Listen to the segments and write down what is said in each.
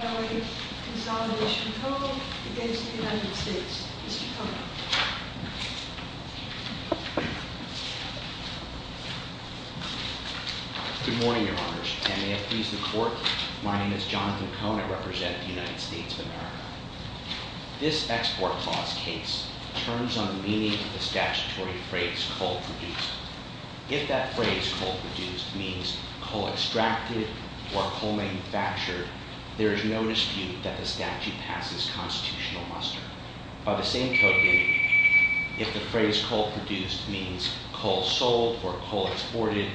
Good morning, Your Honors, and may it please the Court, my name is Jonathan Kona, I represent the United States of America. This Export Clause case turns on the meaning of the statutory phrase, Coal Produced. If that phrase, Coal Produced, means Coal Extracted or Coal Manufactured, there is no dispute that the statute passes constitutional muster. By the same token, if the phrase, Coal Produced, means Coal Sold or Coal Exported,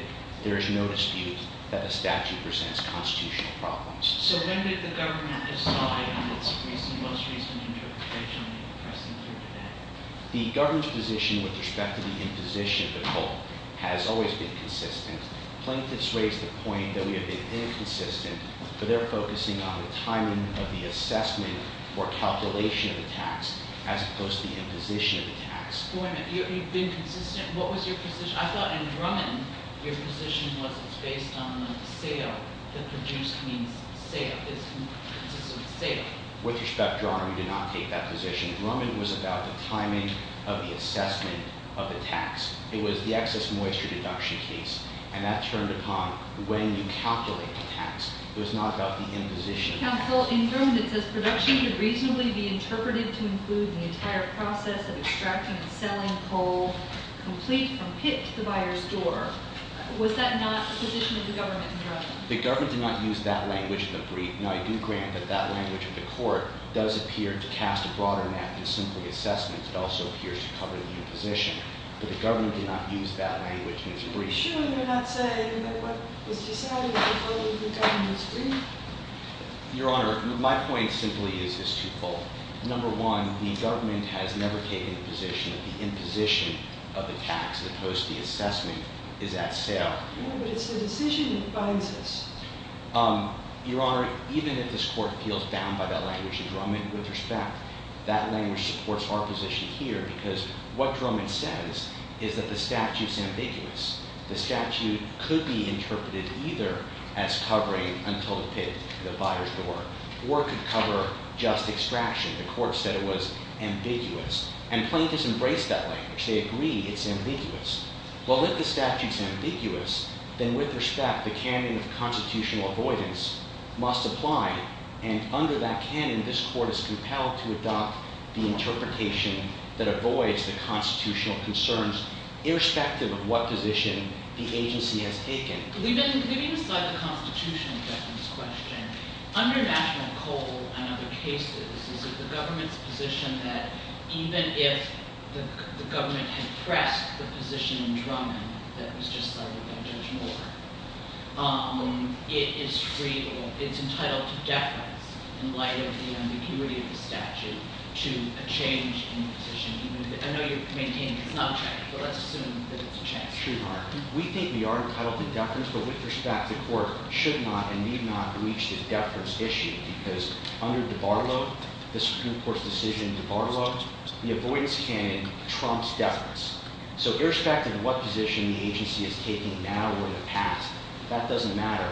there is no dispute that the statute presents constitutional problems. So when did the government decide on its most recent interpretation on the expressing term today? The government's position with respect to the imposition of the coal has always been consistent. Plaintiffs raise the point that we have been inconsistent, but they're focusing on the timing of the assessment or calculation of the tax, as opposed to the imposition of the tax. Wait a minute, you've been consistent? What was your position? I thought in Drummond, your position was it's based on the sale. The produced means sale. It's consistent with sale. With respect, Your Honor, we did not take that position. Drummond was about the timing of the assessment of the tax. It was the excess moisture deduction case, and that turned upon the way you calculate the tax. It was not about the imposition. Counsel, in Drummond it says production could reasonably be interpreted to include the entire process of extracting and selling coal, complete from pit to the buyer's door. Was that not the position of the government in Drummond? The government did not use that language in the brief. Now, I do grant that that language of the court does appear to cast a broader net than simply assessment. It also appears to cover the imposition. But the government did not use that language in its brief. Are you sure you're not saying that what was decided before the government's brief? Your Honor, my point simply is this twofold. Number one, the government has never taken the position that the imposition of the tax, as opposed to the assessment, is at sale. No, but it's the decision that binds us. Your Honor, even if this court feels bound by that language in Drummond, with respect, that language supports our position here because what Drummond says is that the statute's ambiguous. The statute could be interpreted either as covering until the pit, the buyer's door, or could cover just extraction. The court said it was ambiguous. And plaintiffs embrace that language. They agree it's ambiguous. Well, if the statute's ambiguous, then with respect, the canon of constitutional avoidance must apply. And under that canon, this court is compelled to adopt the interpretation that avoids the constitutional concerns, irrespective of what position the agency has taken. Leaving aside the constitutional deference question, under national code and other cases, is it the government's position that even if the government had pressed the position in Drummond that was just cited by Judge Moore, it is free or it's entitled to deference in light of the ambiguity of the statute to a change in the position? I know you're maintaining it's not a change, but let's assume that it's a change. We think we are entitled to deference, but with respect, the court should not and need not reach the deference issue because under DiBarlo, the Supreme Court's decision in DiBarlo, the avoidance canon trumps deference. So irrespective of what position the agency is taking now or in the past, that doesn't matter.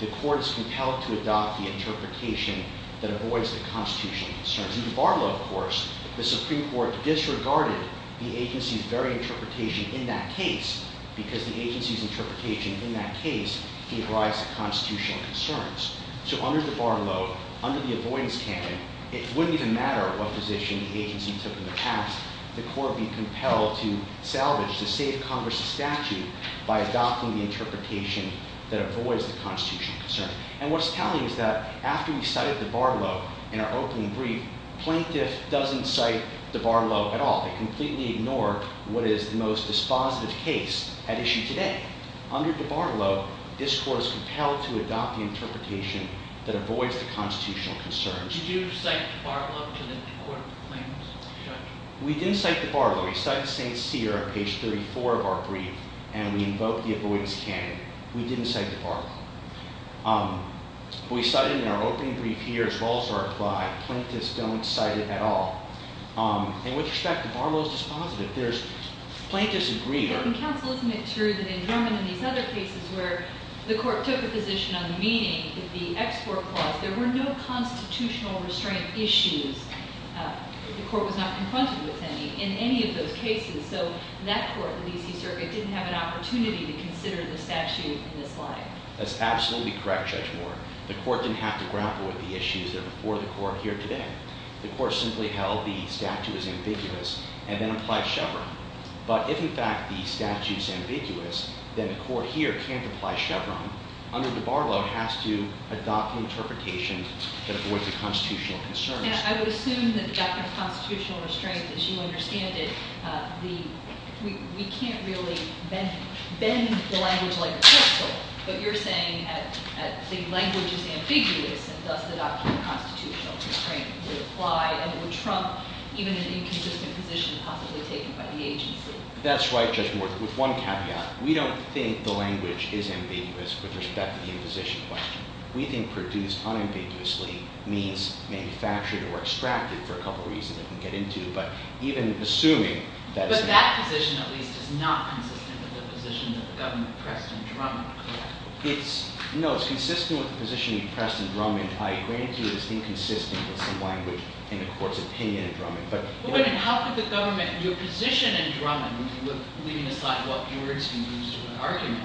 The court is compelled to adopt the interpretation that avoids the constitutional concerns. In DiBarlo, of course, the Supreme Court disregarded the agency's very interpretation in that case because the agency's interpretation in that case gave rise to constitutional concerns. So under DiBarlo, under the avoidance canon, it wouldn't even matter what position the agency took in the past. The court would be compelled to salvage, to save Congress's statute by adopting the interpretation that avoids the constitutional concerns. And what's telling is that after we cited DiBarlo in our opening brief, plaintiff doesn't cite DiBarlo at all. They completely ignore what is the most dispositive case at issue today. Under DiBarlo, this court is compelled to adopt the interpretation that avoids the constitutional concerns. Did you cite DiBarlo to the court of the plaintiff's judgment? We didn't cite DiBarlo. We cited St. Cyr on page 34 of our brief, and we invoked the avoidance canon. We didn't cite DiBarlo. We cited it in our opening brief here as well as our reply. Plaintiffs don't cite it at all. In which respect, DiBarlo is dispositive. There's plaintiffs' agreement. But in counsel, isn't it true that in Drummond and these other cases where the court took a position on the meaning of the export clause, there were no constitutional restraint issues. The court was not confronted with any in any of those cases. So that court, the D.C. Circuit, didn't have an opportunity to consider the statute in this light. That's absolutely correct, Judge Moore. The court didn't have to grapple with the issues that are before the court here today. The court simply held the statute is ambiguous and then applied Chevron. But if, in fact, the statute is ambiguous, then the court here can't apply Chevron. Under DiBarlo, it has to adopt an interpretation that avoids the constitutional concerns. And I would assume that the doctrine of constitutional restraint, as you understand it, we can't really bend the language like a crystal. But you're saying that the language is ambiguous and thus the doctrine of constitutional restraint would apply and it would trump even an inconsistent position possibly taken by the agency. That's right, Judge Moore, with one caveat. We don't think the language is ambiguous with respect to the imposition claim. We think produced unambiguously means manufactured or extracted for a couple of reasons that we'll get into. But even assuming that... But that position, at least, is not consistent with the position that the government pressed and drummed, correct? No, it's consistent with the position you pressed and drummed. I grant you it is inconsistent with some language in the court's opinion and drumming. But how could the government do a position and drumming, leaving aside what words can be used to an argument,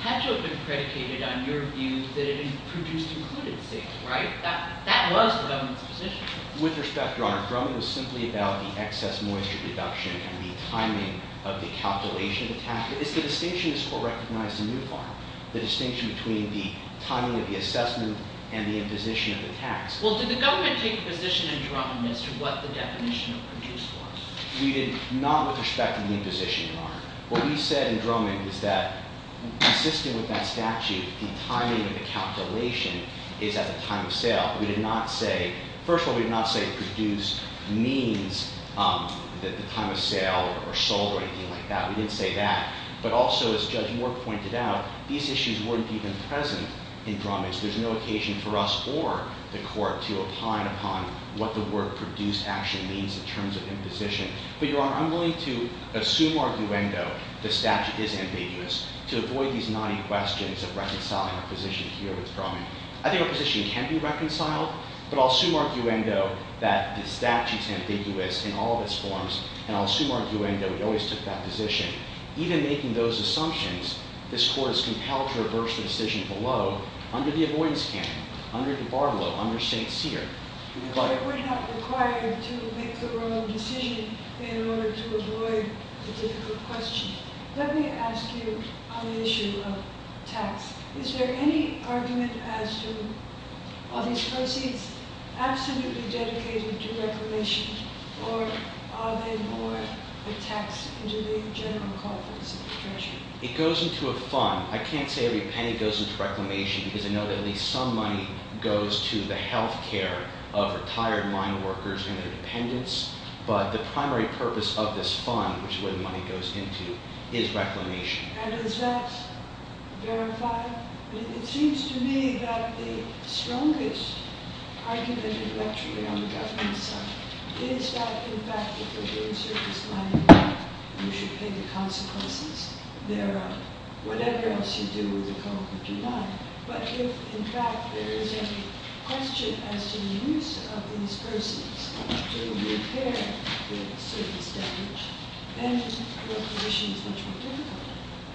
had to have been predicated on your view that it produced included things, right? That was the government's position. With respect, Your Honor, drumming was simply about the excess moisture reduction and the timing of the calculation of the tax. It's the distinction this court recognized in New Farm, the distinction between the timing of the assessment and the imposition of the tax. Well, did the government take a position and drum as to what the definition of produced was? We did not with respect to the imposition, Your Honor. What we said in drumming is that, consistent with that statute, the timing of the calculation is at the time of sale. We did not say... First of all, we did not say produced means the time of sale or sold or anything like that. We didn't say that. But also, as Judge Moore pointed out, these issues weren't even present in drumming. So there's no occasion for us or the court to opine upon what the word produced actually means in terms of imposition. But, Your Honor, I'm willing to assume arguendo the statute is ambiguous to avoid these knotty questions of reconciling a position here with drumming. I think a position can be reconciled, but I'll assume arguendo that the statute's ambiguous in all of its forms, and I'll assume arguendo we always took that position. Even making those assumptions, this court is compelled to reverse the decision below under the avoidance canon, under DiBarlo, under St. Cyr. But we're not required to make the wrong decision in order to avoid the difficult question. Let me ask you on the issue of tax. Is there any argument as to... Are these proceeds absolutely dedicated to reclamation, or are they more a tax than to the general cost of the treasury? It goes into a fund. I can't say every penny goes into reclamation because I know that at least some money goes to the health care of retired mine workers and their dependents, but the primary purpose of this fund, which is where the money goes into, is reclamation. And is that verified? It seems to me that the strongest argument intellectually on the government side is that, in fact, if we're doing circus mining, we should pay the consequences thereof. Whatever else you do with the coal, you do not. But if, in fact, there is a question as to the use of these persons to repair the circus damage, then your position is much more difficult.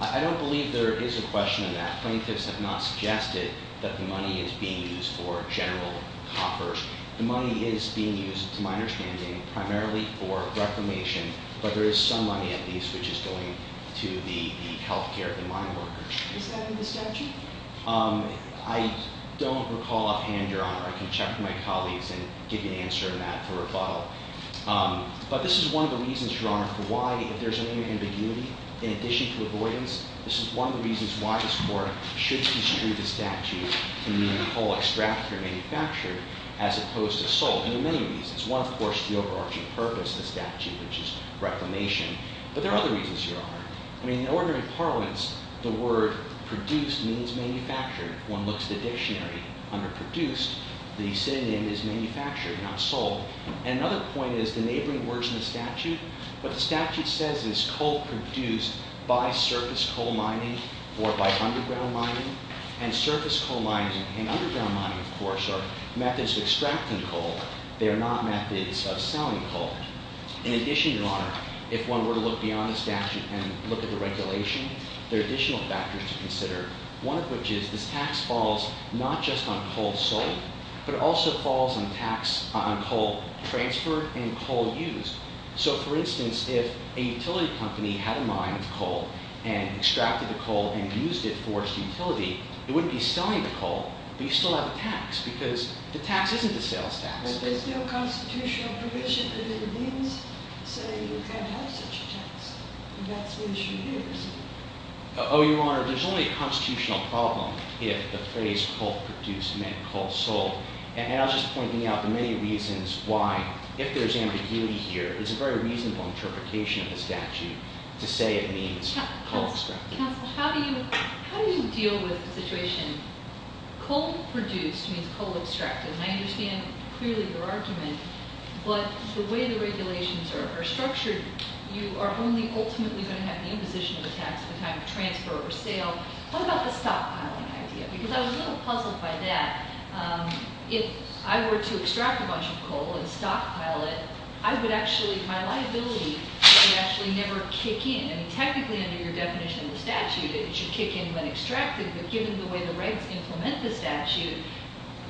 I don't believe there is a question in that. Plaintiffs have not suggested that the money is being used for general copper. The money is being used, to my understanding, primarily for reclamation, but there is some money, at least, which is going to the health care of the mine workers. Is that in the statute? I don't recall offhand, Your Honor. I can check with my colleagues and give you an answer to that for rebuttal. But this is one of the reasons, Your Honor, for why, if there's any ambiguity, in addition to avoidance, this is one of the reasons why this Court should construe the statute to mean coal extracted or manufactured as opposed to sold, and in many reasons. One, of course, is the overarching purpose of the statute, which is reclamation. But there are other reasons, Your Honor. In ordinary parliaments, the word produced means manufactured. If one looks at the dictionary, under produced, the synonym is manufactured, not sold. Another point is the neighboring words in the statute. What the statute says is coal produced by surface coal mining or by underground mining. And surface coal mining and underground mining, of course, are methods of extracting coal. They are not methods of selling coal. In addition, Your Honor, if one were to look beyond the statute and look at the regulation, there are additional factors to consider, one of which is this tax falls not just on coal sold, but it also falls on coal transferred and coal used. So, for instance, if a utility company had a mine of coal and extracted the coal and used it for its utility, it wouldn't be selling the coal, but you still have a tax because the tax isn't a sales tax. But there's no constitutional provision that it means so you can't have such a tax. And that's the issue here, isn't it? Oh, Your Honor, there's only a constitutional problem if the phrase coal produced meant coal sold. And I'll just point out the many reasons why, if there's ambiguity here, it's a very reasonable interpretation of the statute to say it means coal extracted. Counsel, how do you deal with the situation? Coal produced means coal extracted, and I understand clearly your argument, but the way the regulations are structured, you are only ultimately going to have the imposition of a tax at the time of transfer or sale. What about the stockpiling idea? Because I was a little puzzled by that. If I were to extract a bunch of coal and stockpile it, I would actually, my liability would actually never kick in. Technically, under your definition of the statute, it should kick in when extracted, but given the way the regs implement the statute,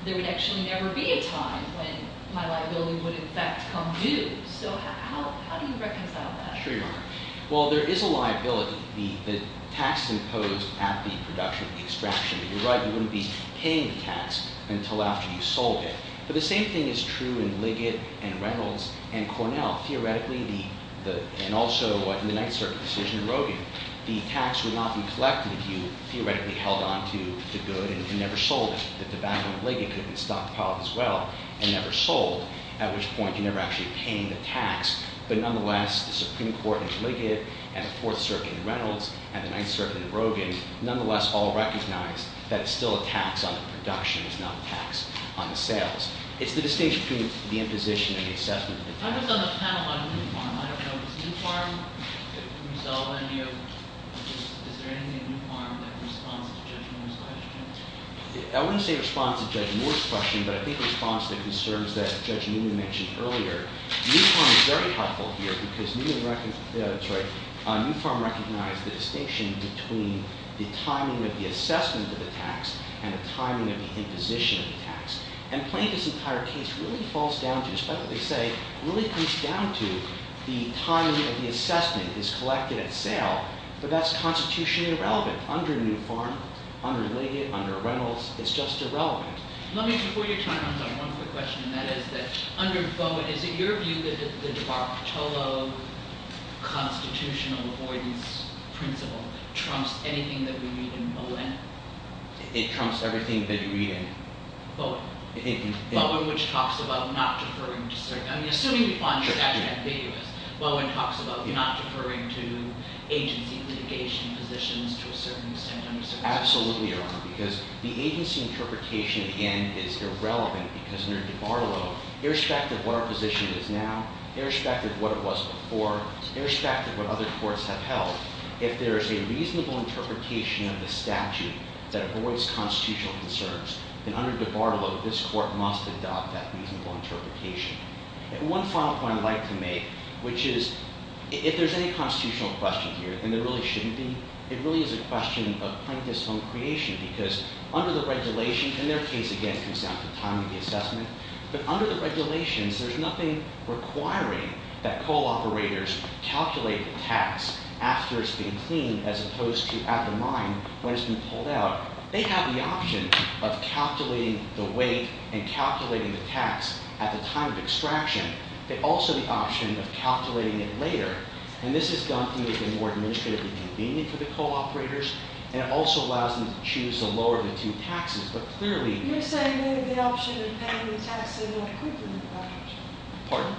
there would actually never be a time when my liability would in fact come due. So how do you reconcile that? Sure, Your Honor. Well, there is a liability, the tax imposed at the production of the extraction. You're right, you wouldn't be paying the tax until after you sold it. Theoretically, and also in the Ninth Circuit decision in Rogin, the tax would not be collected if you theoretically held on to the good and never sold it. The tobacco in Liggett could have been stockpiled as well and never sold, at which point you're never actually paying the tax. But nonetheless, the Supreme Court in Liggett and the Fourth Circuit in Reynolds and the Ninth Circuit in Rogin nonetheless all recognize that it's still a tax on the production, it's not a tax on the sales. It's the distinction between the imposition and the assessment of the tax. I was on the panel on New Farm. I don't know if it was New Farm who saw the video. Is there anything in New Farm that responds to Judge Moore's question? I wouldn't say responds to Judge Moore's question, but I think responds to the concerns that Judge Newman mentioned earlier. New Farm is very helpful here because Newman recognized, sorry, New Farm recognized the distinction between the timing of the assessment of the tax and the timing of the imposition of the tax. And playing this entire case really falls down to, despite what they say, really comes down to the timing of the assessment is collected at sale, but that's constitutionally irrelevant under New Farm, under Liggett, under Reynolds. It's just irrelevant. Let me, before your time runs out, one quick question, and that is that under Bowen, is it your view that the de Bartolo constitutional avoidance principle trumps anything that we read in Bowen? It trumps everything that you read in Bowen. Bowen which talks about not deferring to certain, I mean, assuming you find the statute ambiguous, Bowen talks about not deferring to agency litigation positions to a certain extent. Absolutely, Your Honor, because the agency interpretation, again, is irrelevant because under de Bartolo, irrespective of what our position is now, irrespective of what it was before, irrespective of what other courts have held, if there is a reasonable interpretation of the statute that avoids constitutional concerns, then under de Bartolo, this court must adopt that reasonable interpretation. And one final point I'd like to make, which is, if there's any constitutional question here, and there really shouldn't be, it really is a question of plaintiffs' own creation because under the regulations, and their case, again, comes down to timing the assessment, but under the regulations, there's nothing requiring that coal operators calculate the tax after it's been cleaned as opposed to at the mine when it's been pulled out. They have the option of calculating the weight and calculating the tax at the time of extraction, but also the option of calculating it later. And this is done to make it more administratively convenient for the coal operators, and it also allows them to choose the lower of the two taxes. But clearly— You're saying they have the option of paying the taxes more quickly. Pardon?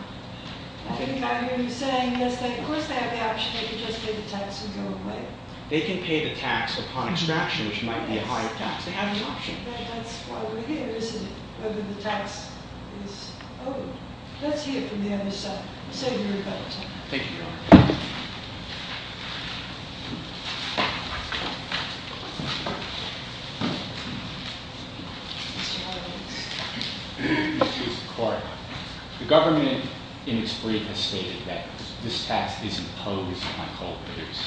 I think I hear you saying, yes, of course they have the option. They can just pay the tax and go away. They can pay the tax upon extraction, which might be a higher tax. They have an option. But that's why we're here, isn't it? Whether the tax is owed. Let's hear it from the other side. I'll save you a better time. Thank you, Your Honor. Mr. Horowitz. Thank you, Mr. Court. The government in its brief has stated that this tax is imposed on coal operators.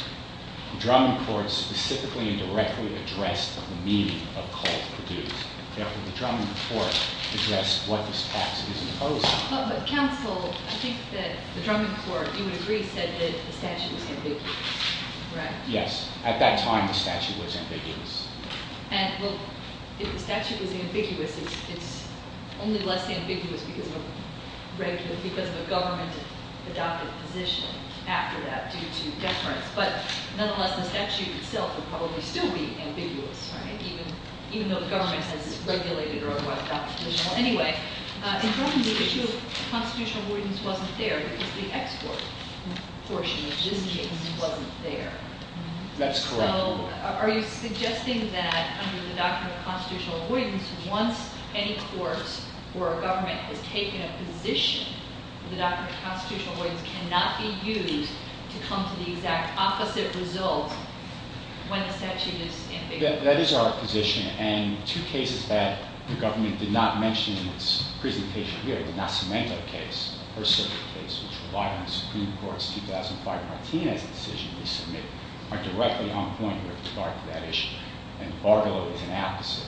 The Drummond Court specifically and directly addressed the meaning of coal produced. Therefore, the Drummond Court addressed what this tax is imposed on. But, counsel, I think that the Drummond Court, you would agree, said that the statute was ambiguous, right? Yes. At that time, the statute was ambiguous. And, well, if the statute was ambiguous, it's only less ambiguous because of a government-adopted position after that due to deference. But, nonetheless, the statute itself would probably still be ambiguous, right? Even though the government says it's regulated or whatnot. Anyway, in Drummond, the issue of constitutional avoidance wasn't there because the export portion of this case wasn't there. That's correct. So, are you suggesting that under the doctrine of constitutional avoidance, once any court or government has taken a position, the doctrine of constitutional avoidance cannot be used to come to the exact opposite result when the statute is ambiguous? That is our position. And two cases that the government did not mention in its presentation here, the Nacimento case, which relied on the Supreme Court's 2005 Martinez decision to submit, are directly on point with regard to that issue. And Bargillo is an opposite.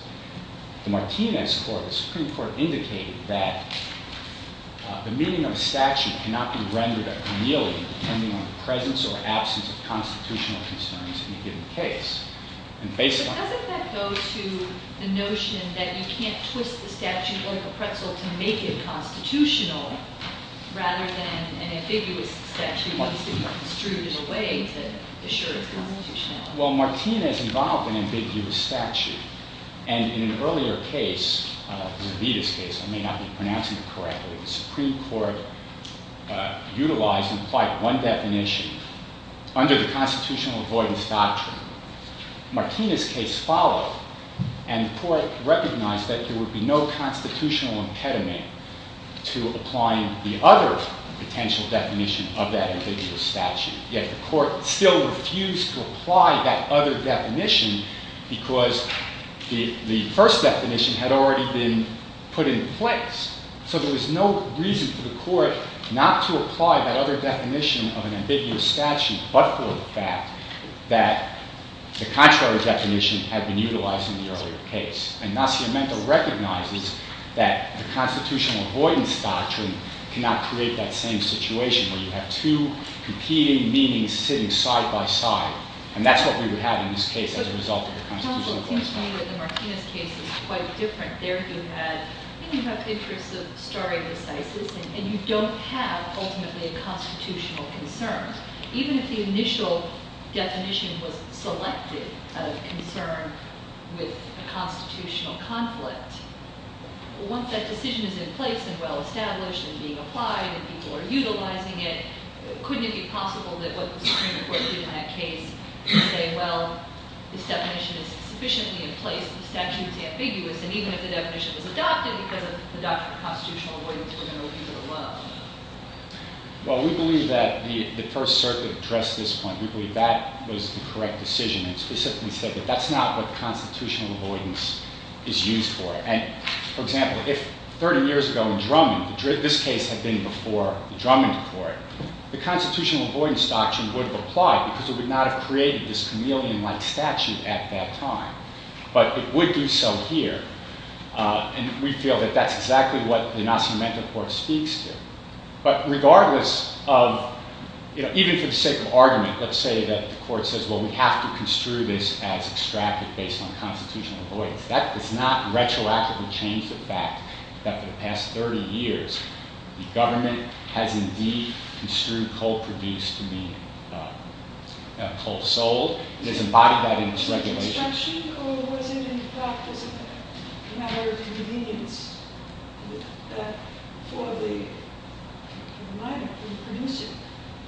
The Martinez court, the Supreme Court, indicated that the meaning of a statute cannot be rendered a chameleon depending on the presence or absence of constitutional concerns in a given case. But doesn't that go to the notion that you can't twist the statute like a pretzel to make it constitutional rather than an ambiguous statute that needs to be distributed away to assure its constitutionality? Well, Martinez involved an ambiguous statute. And in an earlier case, Zambita's case, I may not be pronouncing it correctly, the Supreme Court utilized and applied one definition under the constitutional avoidance doctrine. Martinez's case followed, and the court recognized that there would be no constitutional impediment to applying the other potential definition of that ambiguous statute. Yet the court still refused to apply that other definition because the first definition had already been put in place. So there was no reason for the court not to apply that other definition of an ambiguous statute but for the fact that the contrary definition had been utilized in the earlier case. And Nacimento recognizes that the constitutional avoidance doctrine cannot create that same situation where you have two competing meanings sitting side by side. And that's what we would have in this case as a result of the constitutional avoidance doctrine. It seems to me that the Martinez case is quite different. There you have interests of starring decisis, and you don't have ultimately a constitutional concern. Even if the initial definition was selected out of concern with a constitutional conflict, once that decision is in place and well-established and being applied and people are utilizing it, couldn't it be possible that what the Supreme Court did in that case would say, well, this definition is sufficiently in place, the statute is ambiguous, and even if the definition was adopted because of the doctrine of constitutional avoidance, we're going to leave it alone? Well, we believe that the First Circuit addressed this point. We believe that was the correct decision. It specifically said that that's not what constitutional avoidance is used for. And for example, if 30 years ago in Drummond, this case had been before the Drummond court, the constitutional avoidance doctrine would have applied because it would not have created this chameleon-like statute at that time. But it would do so here, and we feel that that's exactly what the Nascimento Court speaks to. But regardless of, even for the sake of argument, let's say that the court says, well, we have to construe this as extractive based on constitutional avoidance. That does not retroactively change the fact that for the past 30 years, the government has indeed construed coal produced to be coal sold. It has embodied that in its regulations. Construction, or was it in fact just a matter of convenience for the miner, for the producer,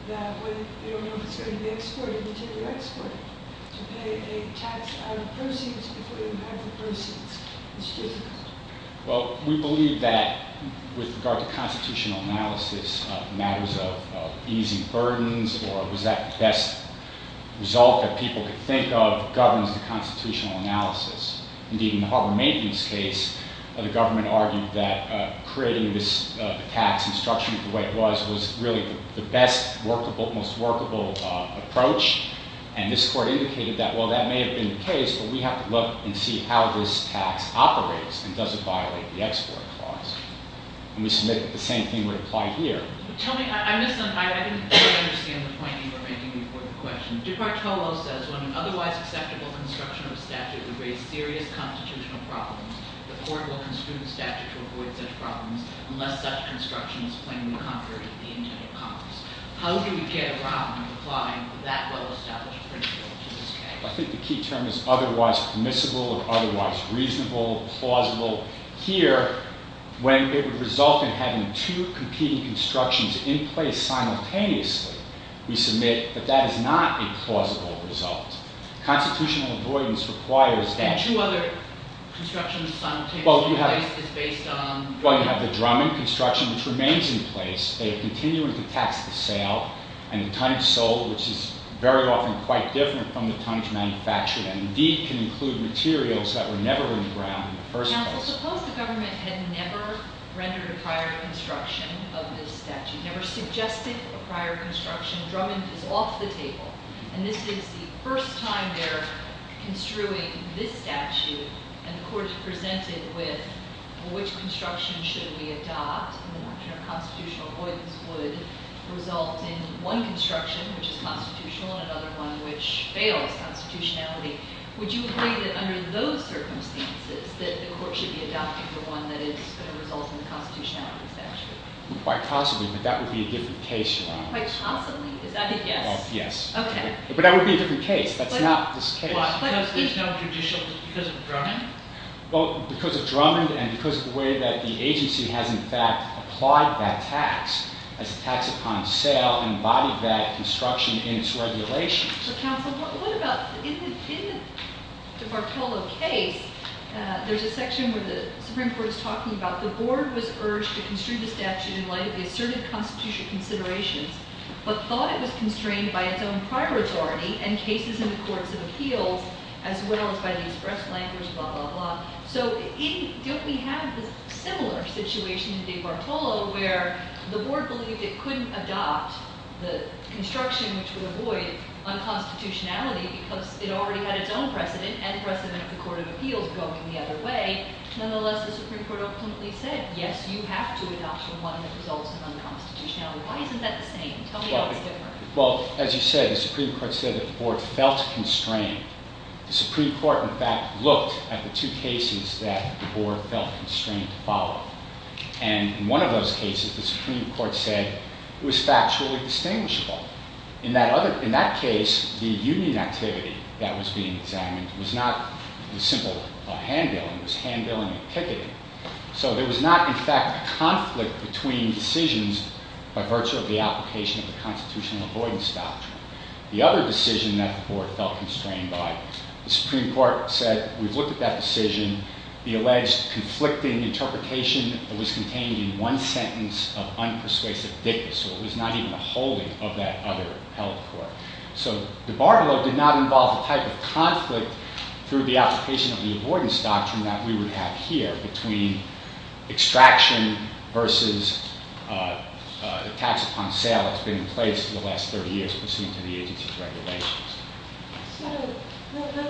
that when they don't know if it's going to be exported, they take it to export, to pay a tax out of proceeds before they have the proceeds to construe the coal. Well, we believe that with regard to constitutional analysis, matters of easing burdens, or was that the best result that people could think of governs the constitutional analysis. Indeed, in the Harbor Maintenance case, the government argued that creating this tax and structuring it the way it was, was really the best workable, most workable approach. And this court indicated that, well, that may have been the case, but we have to look and see how this tax operates and does it violate the export clause. And we submit that the same thing would apply here. Tell me, I misunderstand the point you were making before the question. Dick Bartolo says when an otherwise acceptable construction of a statute would raise serious constitutional problems, the court will construe the statute to avoid such problems unless such construction is plainly contrary to the intent of Congress. How do we get around applying that well-established principle to this case? I think the key term is otherwise permissible or otherwise reasonable, plausible. Here, when it would result in having two competing constructions in place simultaneously, we submit that that is not a plausible result. Constitutional avoidance requires that. And two other constructions simultaneously in place is based on? Well, you have the Drummond construction, which remains in place. They are continuing to tax the sale. And the tonnage sold, which is very often quite different from the tonnage manufactured, and indeed can include materials that were never in the ground in the first place. Counsel, suppose the government had never rendered a prior construction of this statute, never suggested a prior construction. Drummond is off the table. And this is the first time they're construing this statute. And the court is presented with, well, which construction should we adopt? Constitutional avoidance would result in one construction, which is constitutional, and another one, which fails constitutionality. Would you agree that under those circumstances that the court should be adopting the one that is going to result in the constitutionality of the statute? Quite possibly, but that would be a different case, Your Honor. Quite possibly? Is that a yes? Yes. Okay. But that would be a different case. That's not this case. Why? Because there's no judicial? Because of Drummond? Well, because of Drummond and because of the way that the agency has, in fact, applied that tax as a tax upon sale and embodied that construction in its regulations. But, counsel, what about in the Bartolo case, there's a section where the Supreme Court is talking about the board was urged to construe the statute in light of the asserted constitutional considerations but thought it was constrained by its own prior authority and cases in the courts of appeals as well as by these breastplankers, blah, blah, blah. So don't we have this similar situation in the Bartolo where the board believed it couldn't adopt the construction, which would avoid unconstitutionality because it already had its own precedent and precedent of the court of appeals going the other way. Nonetheless, the Supreme Court ultimately said, yes, you have to adopt the one that results in unconstitutionality. Why isn't that the same? Tell me how it's different. Well, as you said, the Supreme Court said that the board felt constrained. The Supreme Court, in fact, looked at the two cases that the board felt constrained to follow. And in one of those cases, the Supreme Court said it was factually distinguishable. In that case, the union activity that was being examined was not the simple hand-dealing. It was hand-dealing and picketing. So there was not, in fact, a conflict between decisions by virtue of the application of the constitutional avoidance doctrine. The other decision that the board felt constrained by, the Supreme Court said, we've looked at that decision. The alleged conflicting interpretation was contained in one sentence of unpersuasive thickness. So it was not even a holding of that other held court. So the Bartolo did not involve the type of conflict through the application of the avoidance doctrine that we would have here between extraction versus the tax upon sale that's been in place for the last 30 years, pursuant to the agency's regulations. So,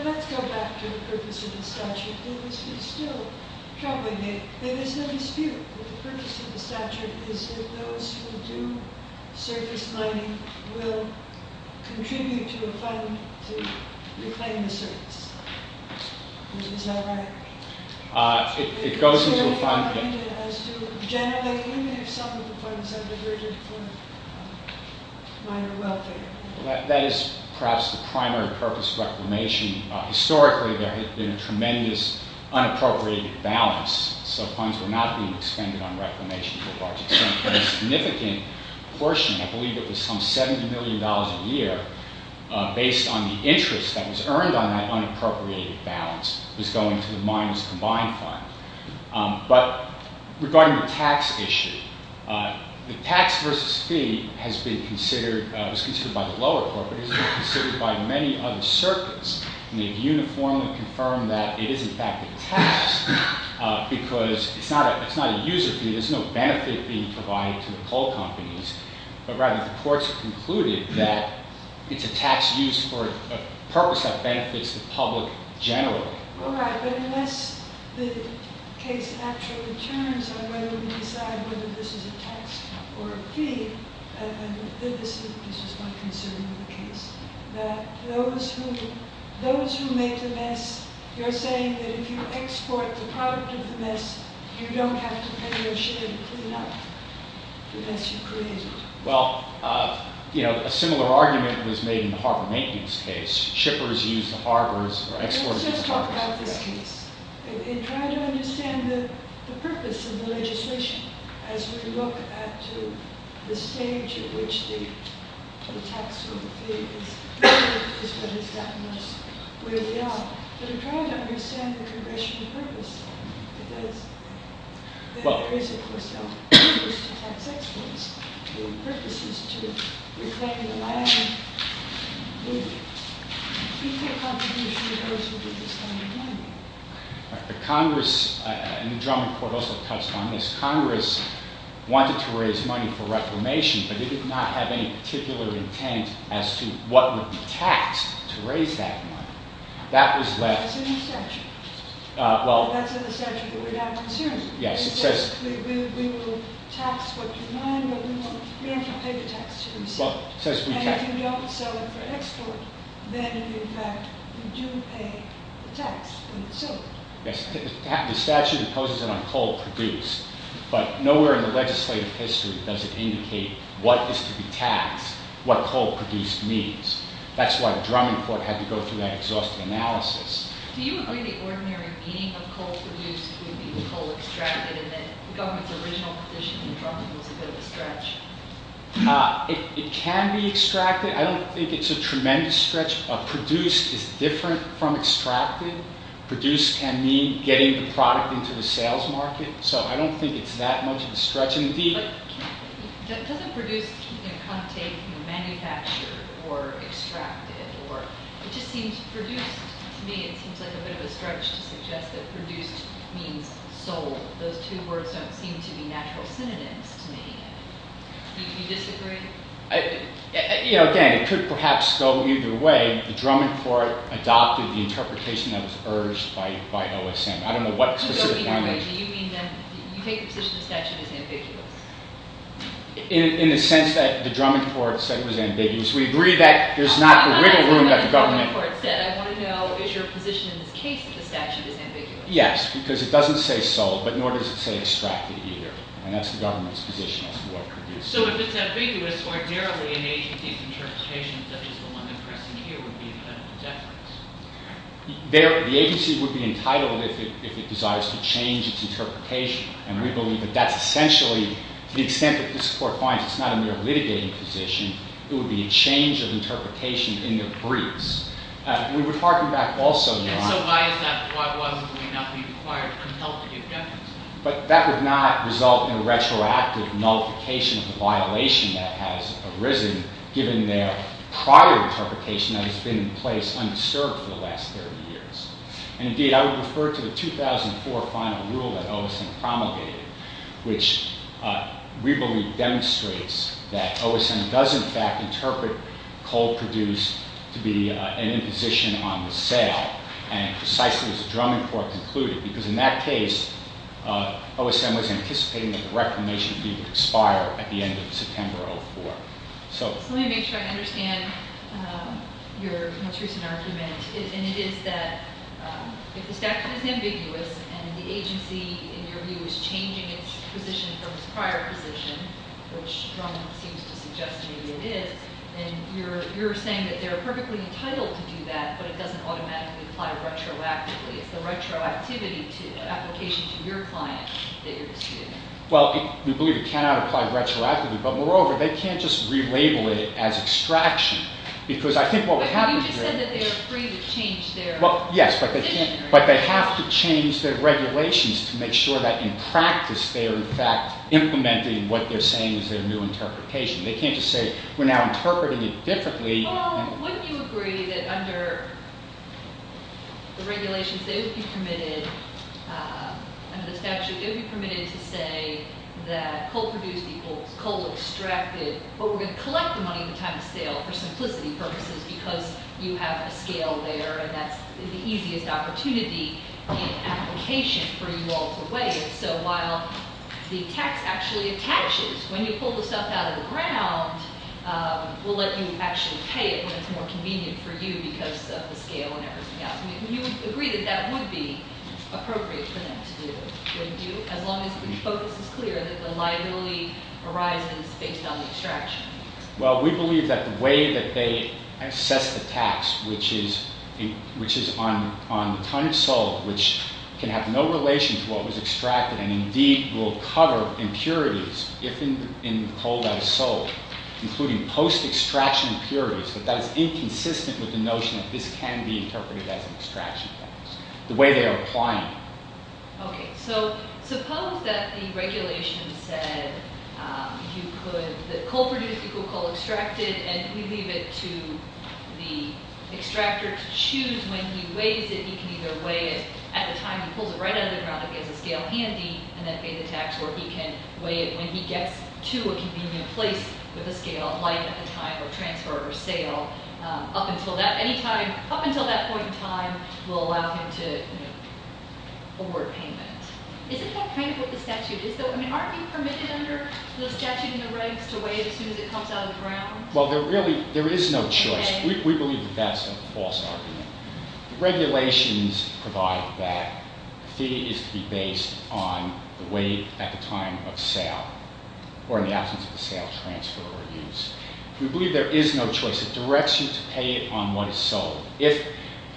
let's go back to the purpose of the statute. This is still troubling me. There is no dispute that the purpose of the statute is that those who do surface money will contribute to a fund to reclaim the surface. Is that right? It goes into a fund pit. As to generally, even if some of the funds have been rigid for minor welfare. That is perhaps the primary purpose of reclamation. Historically, there had been a tremendous unappropriated balance, so funds were not being expended on reclamation to a large extent. But a significant portion, I believe it was some $70 million a year, based on the interest that was earned on that unappropriated balance, was going to the Miners Combined Fund. But regarding the tax issue, the tax versus fee was considered by the lower court, but it has been considered by many other circuits, and they've uniformly confirmed that it is in fact a tax, because it's not a user fee, there's no benefit being provided to the coal companies, but rather the courts have concluded that it's a tax used for a purpose that benefits the public generally. Well, right, but unless the case actually turns on whether we decide whether this is a tax or a fee, then this is my concern with the case. That those who make the mess, you're saying that if you export the product of the mess, you don't have to pay your share to clean up the mess you've created? Well, you know, a similar argument was made in the harbor maintenance case. Shippers use the harbors, or exporters use the harbors. Let's just talk about this case and try to understand the purpose of the legislation as we look at the stage at which the tax or the fee is what has gotten us where we are. But we're trying to understand the congressional purpose, because there is, of course, no purpose to tax exporters, no purposes to reclaim the land, no people contribution to those who do this kind of money. Congress, and the Drummond Court also touched on this, Congress wanted to raise money for reformation, but they did not have any particular intent as to what would be taxed to raise that money. That was left... That's in the statute. Well... That's in the statute that we're now considering. Yes, it says... We will tax what you mine, but we don't have to pay the taxes. Well, it says we tax... And if you don't sell it for export, then in fact, you do pay the tax when it's sold. Yes, the statute imposes it on coal produced, but nowhere in the legislative history does it indicate what is to be taxed, what coal produced means. That's why the Drummond Court had to go through that exhaustive analysis. Do you agree the ordinary meaning of coal produced would be coal extracted, and that the government's original position in Drummond was a bit of a stretch? It can be extracted. I don't think it's a tremendous stretch. Produced is different from extracted. Produced can mean getting the product into the sales market, so I don't think it's that much of a stretch. Doesn't produced kind of take manufactured or extracted? It just seems produced to me, it seems like a bit of a stretch to suggest that produced means sold. Those two words don't seem to be natural synonyms to me. Do you disagree? Again, it could perhaps go either way. The Drummond Court adopted the interpretation that was urged by OSM. Do you mean then you take the position the statute is ambiguous? In the sense that the Drummond Court said it was ambiguous, we agree that there's not the wiggle room that the government... I want to know, is your position in this case that the statute is ambiguous? Yes, because it doesn't say sold, but nor does it say extracted either, and that's the government's position as to what produced means. So if it's ambiguous, ordinarily an agency's interpretation, such as the one that's pressing here, would be a federal deference? The agency would be entitled if it desires to change its interpretation, and we believe that that's essentially, to the extent that this Court finds it's not a mere litigating position, it would be a change of interpretation in the briefs. We would harken back also... And so why is that? Why was it that it may not be required to help to give deference? But that would not result in a retroactive nullification of the violation that has arisen given their prior interpretation that has been in place undisturbed for the last 30 years. And indeed, I would refer to the 2004 final rule that OSM promulgated, which we believe demonstrates that OSM does in fact interpret cold produced to be an imposition on the sale, and precisely as the Drummond Court concluded, because in that case, OSM was anticipating that the reclamation fee would expire at the end of September 2004. Let me make sure I understand your most recent argument, and it is that if the statute is ambiguous and the agency, in your view, is changing its position from its prior position, which Drummond seems to suggest maybe it is, then you're saying that they're perfectly entitled to do that, but it doesn't automatically apply retroactively. It's the retroactivity to the application to your client that you're disputing. Well, we believe it cannot apply retroactively, but moreover, they can't just relabel it as extraction, because I think what we have to do— But you just said that they're free to change their— Well, yes, but they have to change their regulations to make sure that in practice they are in fact implementing what they're saying is their new interpretation. They can't just say we're now interpreting it differently. Oh, wouldn't you agree that under the regulations they would be permitted, under the statute, they would be permitted to say that coal produced equals coal extracted, but we're going to collect the money at the time of sale for simplicity purposes because you have a scale there, and that's the easiest opportunity in application for you all to weigh it. So while the tax actually attaches when you pull the stuff out of the ground, we'll let you actually pay it when it's more convenient for you because of the scale and everything else. You would agree that that would be appropriate for them to do, would you, as long as the focus is clear that the liability arises based on the extraction? Well, we believe that the way that they assess the tax, which is on the time it's sold, which can have no relation to what was extracted and indeed will cover impurities, if in coal that is sold, including post-extraction impurities, but that is inconsistent with the notion that this can be interpreted as an extraction tax. The way they are applying it. Okay, so suppose that the regulation said that coal produced equals coal extracted, and we leave it to the extractor to choose when he weighs it. He can either weigh it at the time he pulls it right out of the ground and gets a scale handy and then pay the tax, or he can weigh it when he gets to a convenient place with a scale, a light at the time of transfer or sale. Up until that point in time, we'll allow him to award payment. Isn't that kind of what the statute is? I mean, aren't you permitted under the statute in the regs to weigh it as soon as it comes out of the ground? Well, there really is no choice. We believe that that's a false argument. The regulations provide that the fee is to be based on the weight at the time of sale or in the absence of the sale, transfer, or use. We believe there is no choice. It directs you to pay it on what is sold. If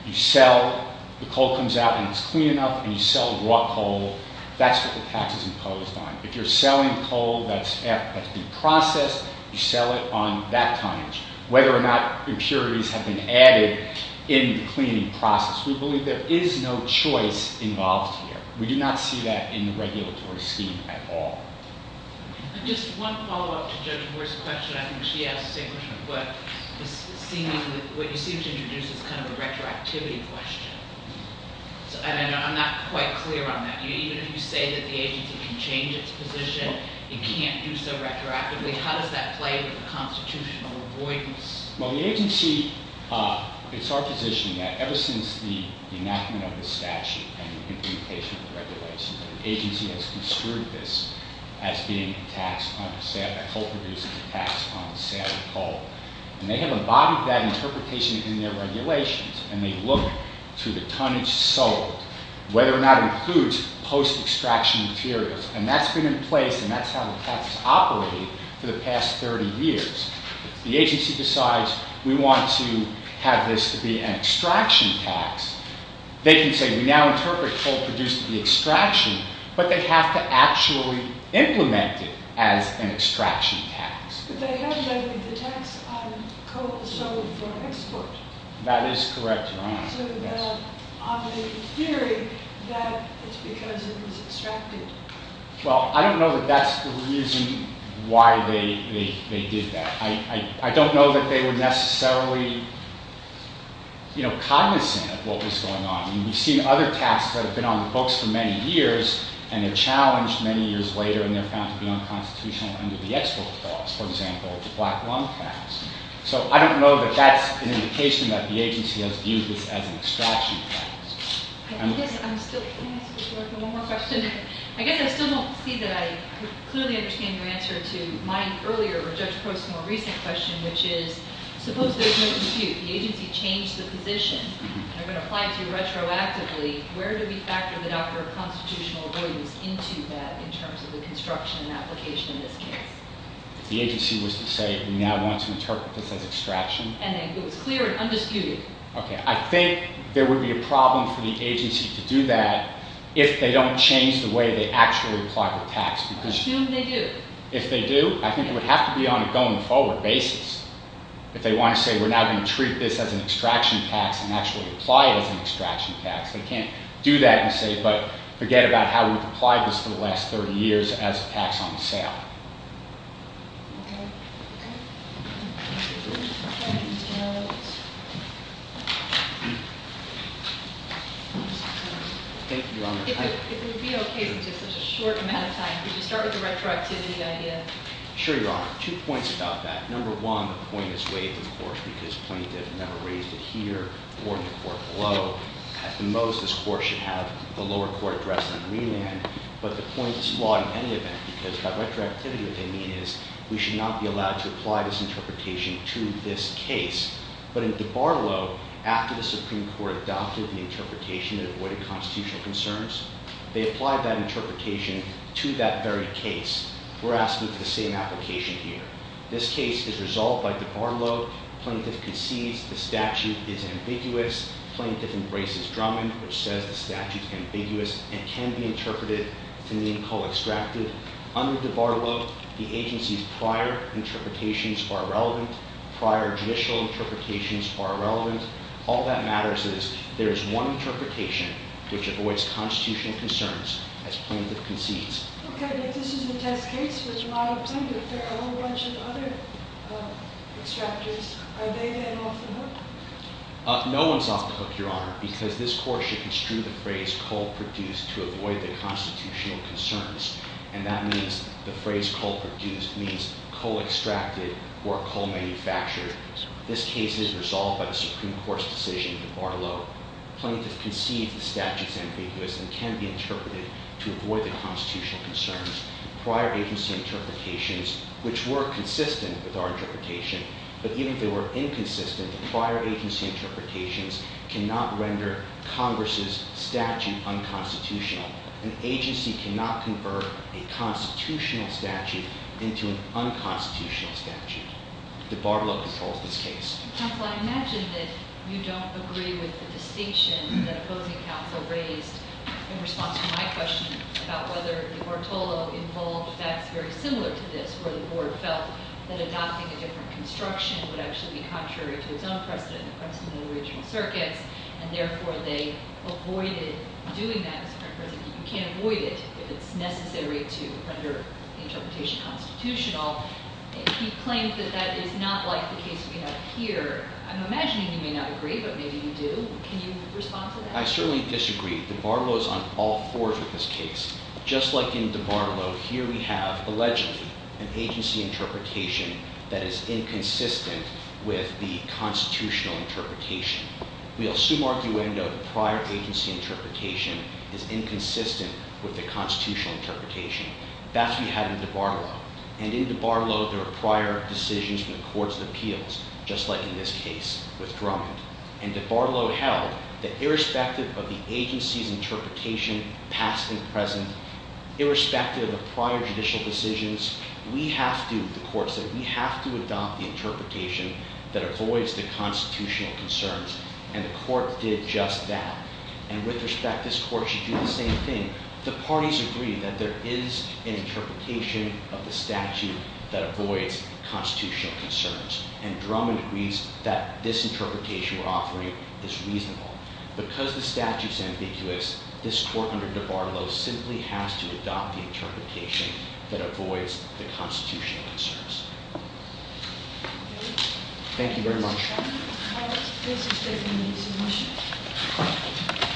you sell, the coal comes out, and it's clean enough, and you sell raw coal, that's what the tax is imposed on. If you're selling coal that's been processed, you sell it on that tonnage. Whether or not impurities have been added in the cleaning process, we believe there is no choice involved here. We do not see that in the regulatory scheme at all. Just one follow-up to Judge Moore's question. I think she asked the same question, but what you seem to introduce is kind of a retroactivity question. And I'm not quite clear on that. Even if you say that the agency can change its position, it can't do so retroactively, how does that play with the constitutional avoidance? Well, the agency, it's our position that ever since the enactment of the statute and the implementation of the regulations, that the agency has construed this as being a tax on the sale, a coal producer's tax on the sale of coal. And they have embodied that interpretation in their regulations, and they look to the tonnage sold, whether or not it includes post-extraction materials. And that's been in place, and that's how the tax has operated for the past 30 years. The agency decides, we want to have this to be an extraction tax. They can say, we now interpret coal produced to be extraction, but they have to actually implement it as an extraction tax. But they have the tax on coal sold for export. That is correct, Your Honor. So on the theory that it's because it was extracted. Well, I don't know that that's the reason why they did that. I don't know that they were necessarily cognizant of what was going on. We've seen other taxes that have been on the books for many years, and they're challenged many years later, and they're found to be unconstitutional under the Export Clause, for example, the Black Lung Tax. So I don't know that that's an indication that the agency has viewed this as an extraction tax. Can I ask one more question? I guess I still don't see that I clearly understand your answer to my earlier, or Judge Crow's more recent question, which is, suppose there's no dispute, the agency changed the position, and they're going to apply it to you retroactively, where do we factor the doctrine of constitutional avoidance into that in terms of the construction and application in this case? The agency was to say, we now want to interpret this as extraction. And it was clear and undisputed. I think there would be a problem for the agency to do that if they don't change the way they actually apply the tax. Assume they do. If they do, I think it would have to be on a going-forward basis. If they want to say, we're now going to treat this as an extraction tax and actually apply it as an extraction tax, they can't do that and say, but forget about how we've applied this for the last 30 years as a tax on sale. Thank you, Your Honor. If it would be okay for just a short amount of time, could you start with the retroactivity idea? Sure, Your Honor. Two points about that. Number one, the point is waived in the court because plaintiff never raised it here or in the court below. At the most, this court should have the lower court address on the green end, but the point is flawed in any event, because by retroactivity what they mean is we should not be allowed to apply this interpretation to this case. But in DiBarlo, after the Supreme Court adopted the interpretation that avoided constitutional concerns, they applied that interpretation to that very case. We're asking for the same application here. This case is resolved by DiBarlo. Plaintiff concedes the statute is ambiguous. Plaintiff embraces Drummond, which says the statute is ambiguous and can be interpreted to mean co-extracted. Under DiBarlo, the agency's prior interpretations are relevant. Prior judicial interpretations are irrelevant. All that matters is there is one interpretation which avoids constitutional concerns as plaintiff concedes. Okay, but this is the test case, which model plaintiff. There are a whole bunch of other extractors. Are they then off the hook? No one's off the hook, Your Honor, because this court should construe the phrase co-produced to avoid the constitutional concerns. And that means the phrase co-produced means co-extracted or co-manufactured. This case is resolved by the Supreme Court's decision to DiBarlo. Plaintiff concedes the statute is ambiguous and can be interpreted to avoid the constitutional concerns. Prior agency interpretations, which were consistent with our interpretation, but even if they were inconsistent, the prior agency interpretations cannot render Congress's statute unconstitutional. An agency cannot convert a constitutional statute into an unconstitutional statute. DiBarlo controls this case. Counsel, I imagine that you don't agree with the distinction that opposing counsel raised in response to my question about whether DiBartolo involved facts very similar to this where the board felt that adopting a different construction would actually be contrary to its own precedent in the original circuits, and therefore they avoided doing that as a current precedent. You can't avoid it if it's necessary to render the interpretation constitutional. He claims that that is not like the case we have here. I'm imagining you may not agree, but maybe you do. Can you respond to that? I certainly disagree. DiBarlo is on all fours with this case. Just like in DiBarlo, here we have, allegedly, an agency interpretation that is inconsistent with the constitutional interpretation. We assume arguendo prior agency interpretation is inconsistent with the constitutional interpretation. That's what we have in DiBarlo. And in DiBarlo, there are prior decisions from the courts of appeals, just like in this case with Drummond. And DiBarlo held that irrespective of the agency's interpretation, past and present, irrespective of prior judicial decisions, we have to, the court said, we have to adopt the interpretation that avoids the constitutional concerns, and the court did just that. And with respect, this court should do the same thing. The parties agree that there is an interpretation of the statute that avoids constitutional concerns, and Drummond agrees that this interpretation we're offering is reasonable. Because the statute's ambiguous, this court under DiBarlo simply has to adopt the interpretation that avoids the constitutional concerns. Thank you very much. If there are no further comments, please abstain from using the motion.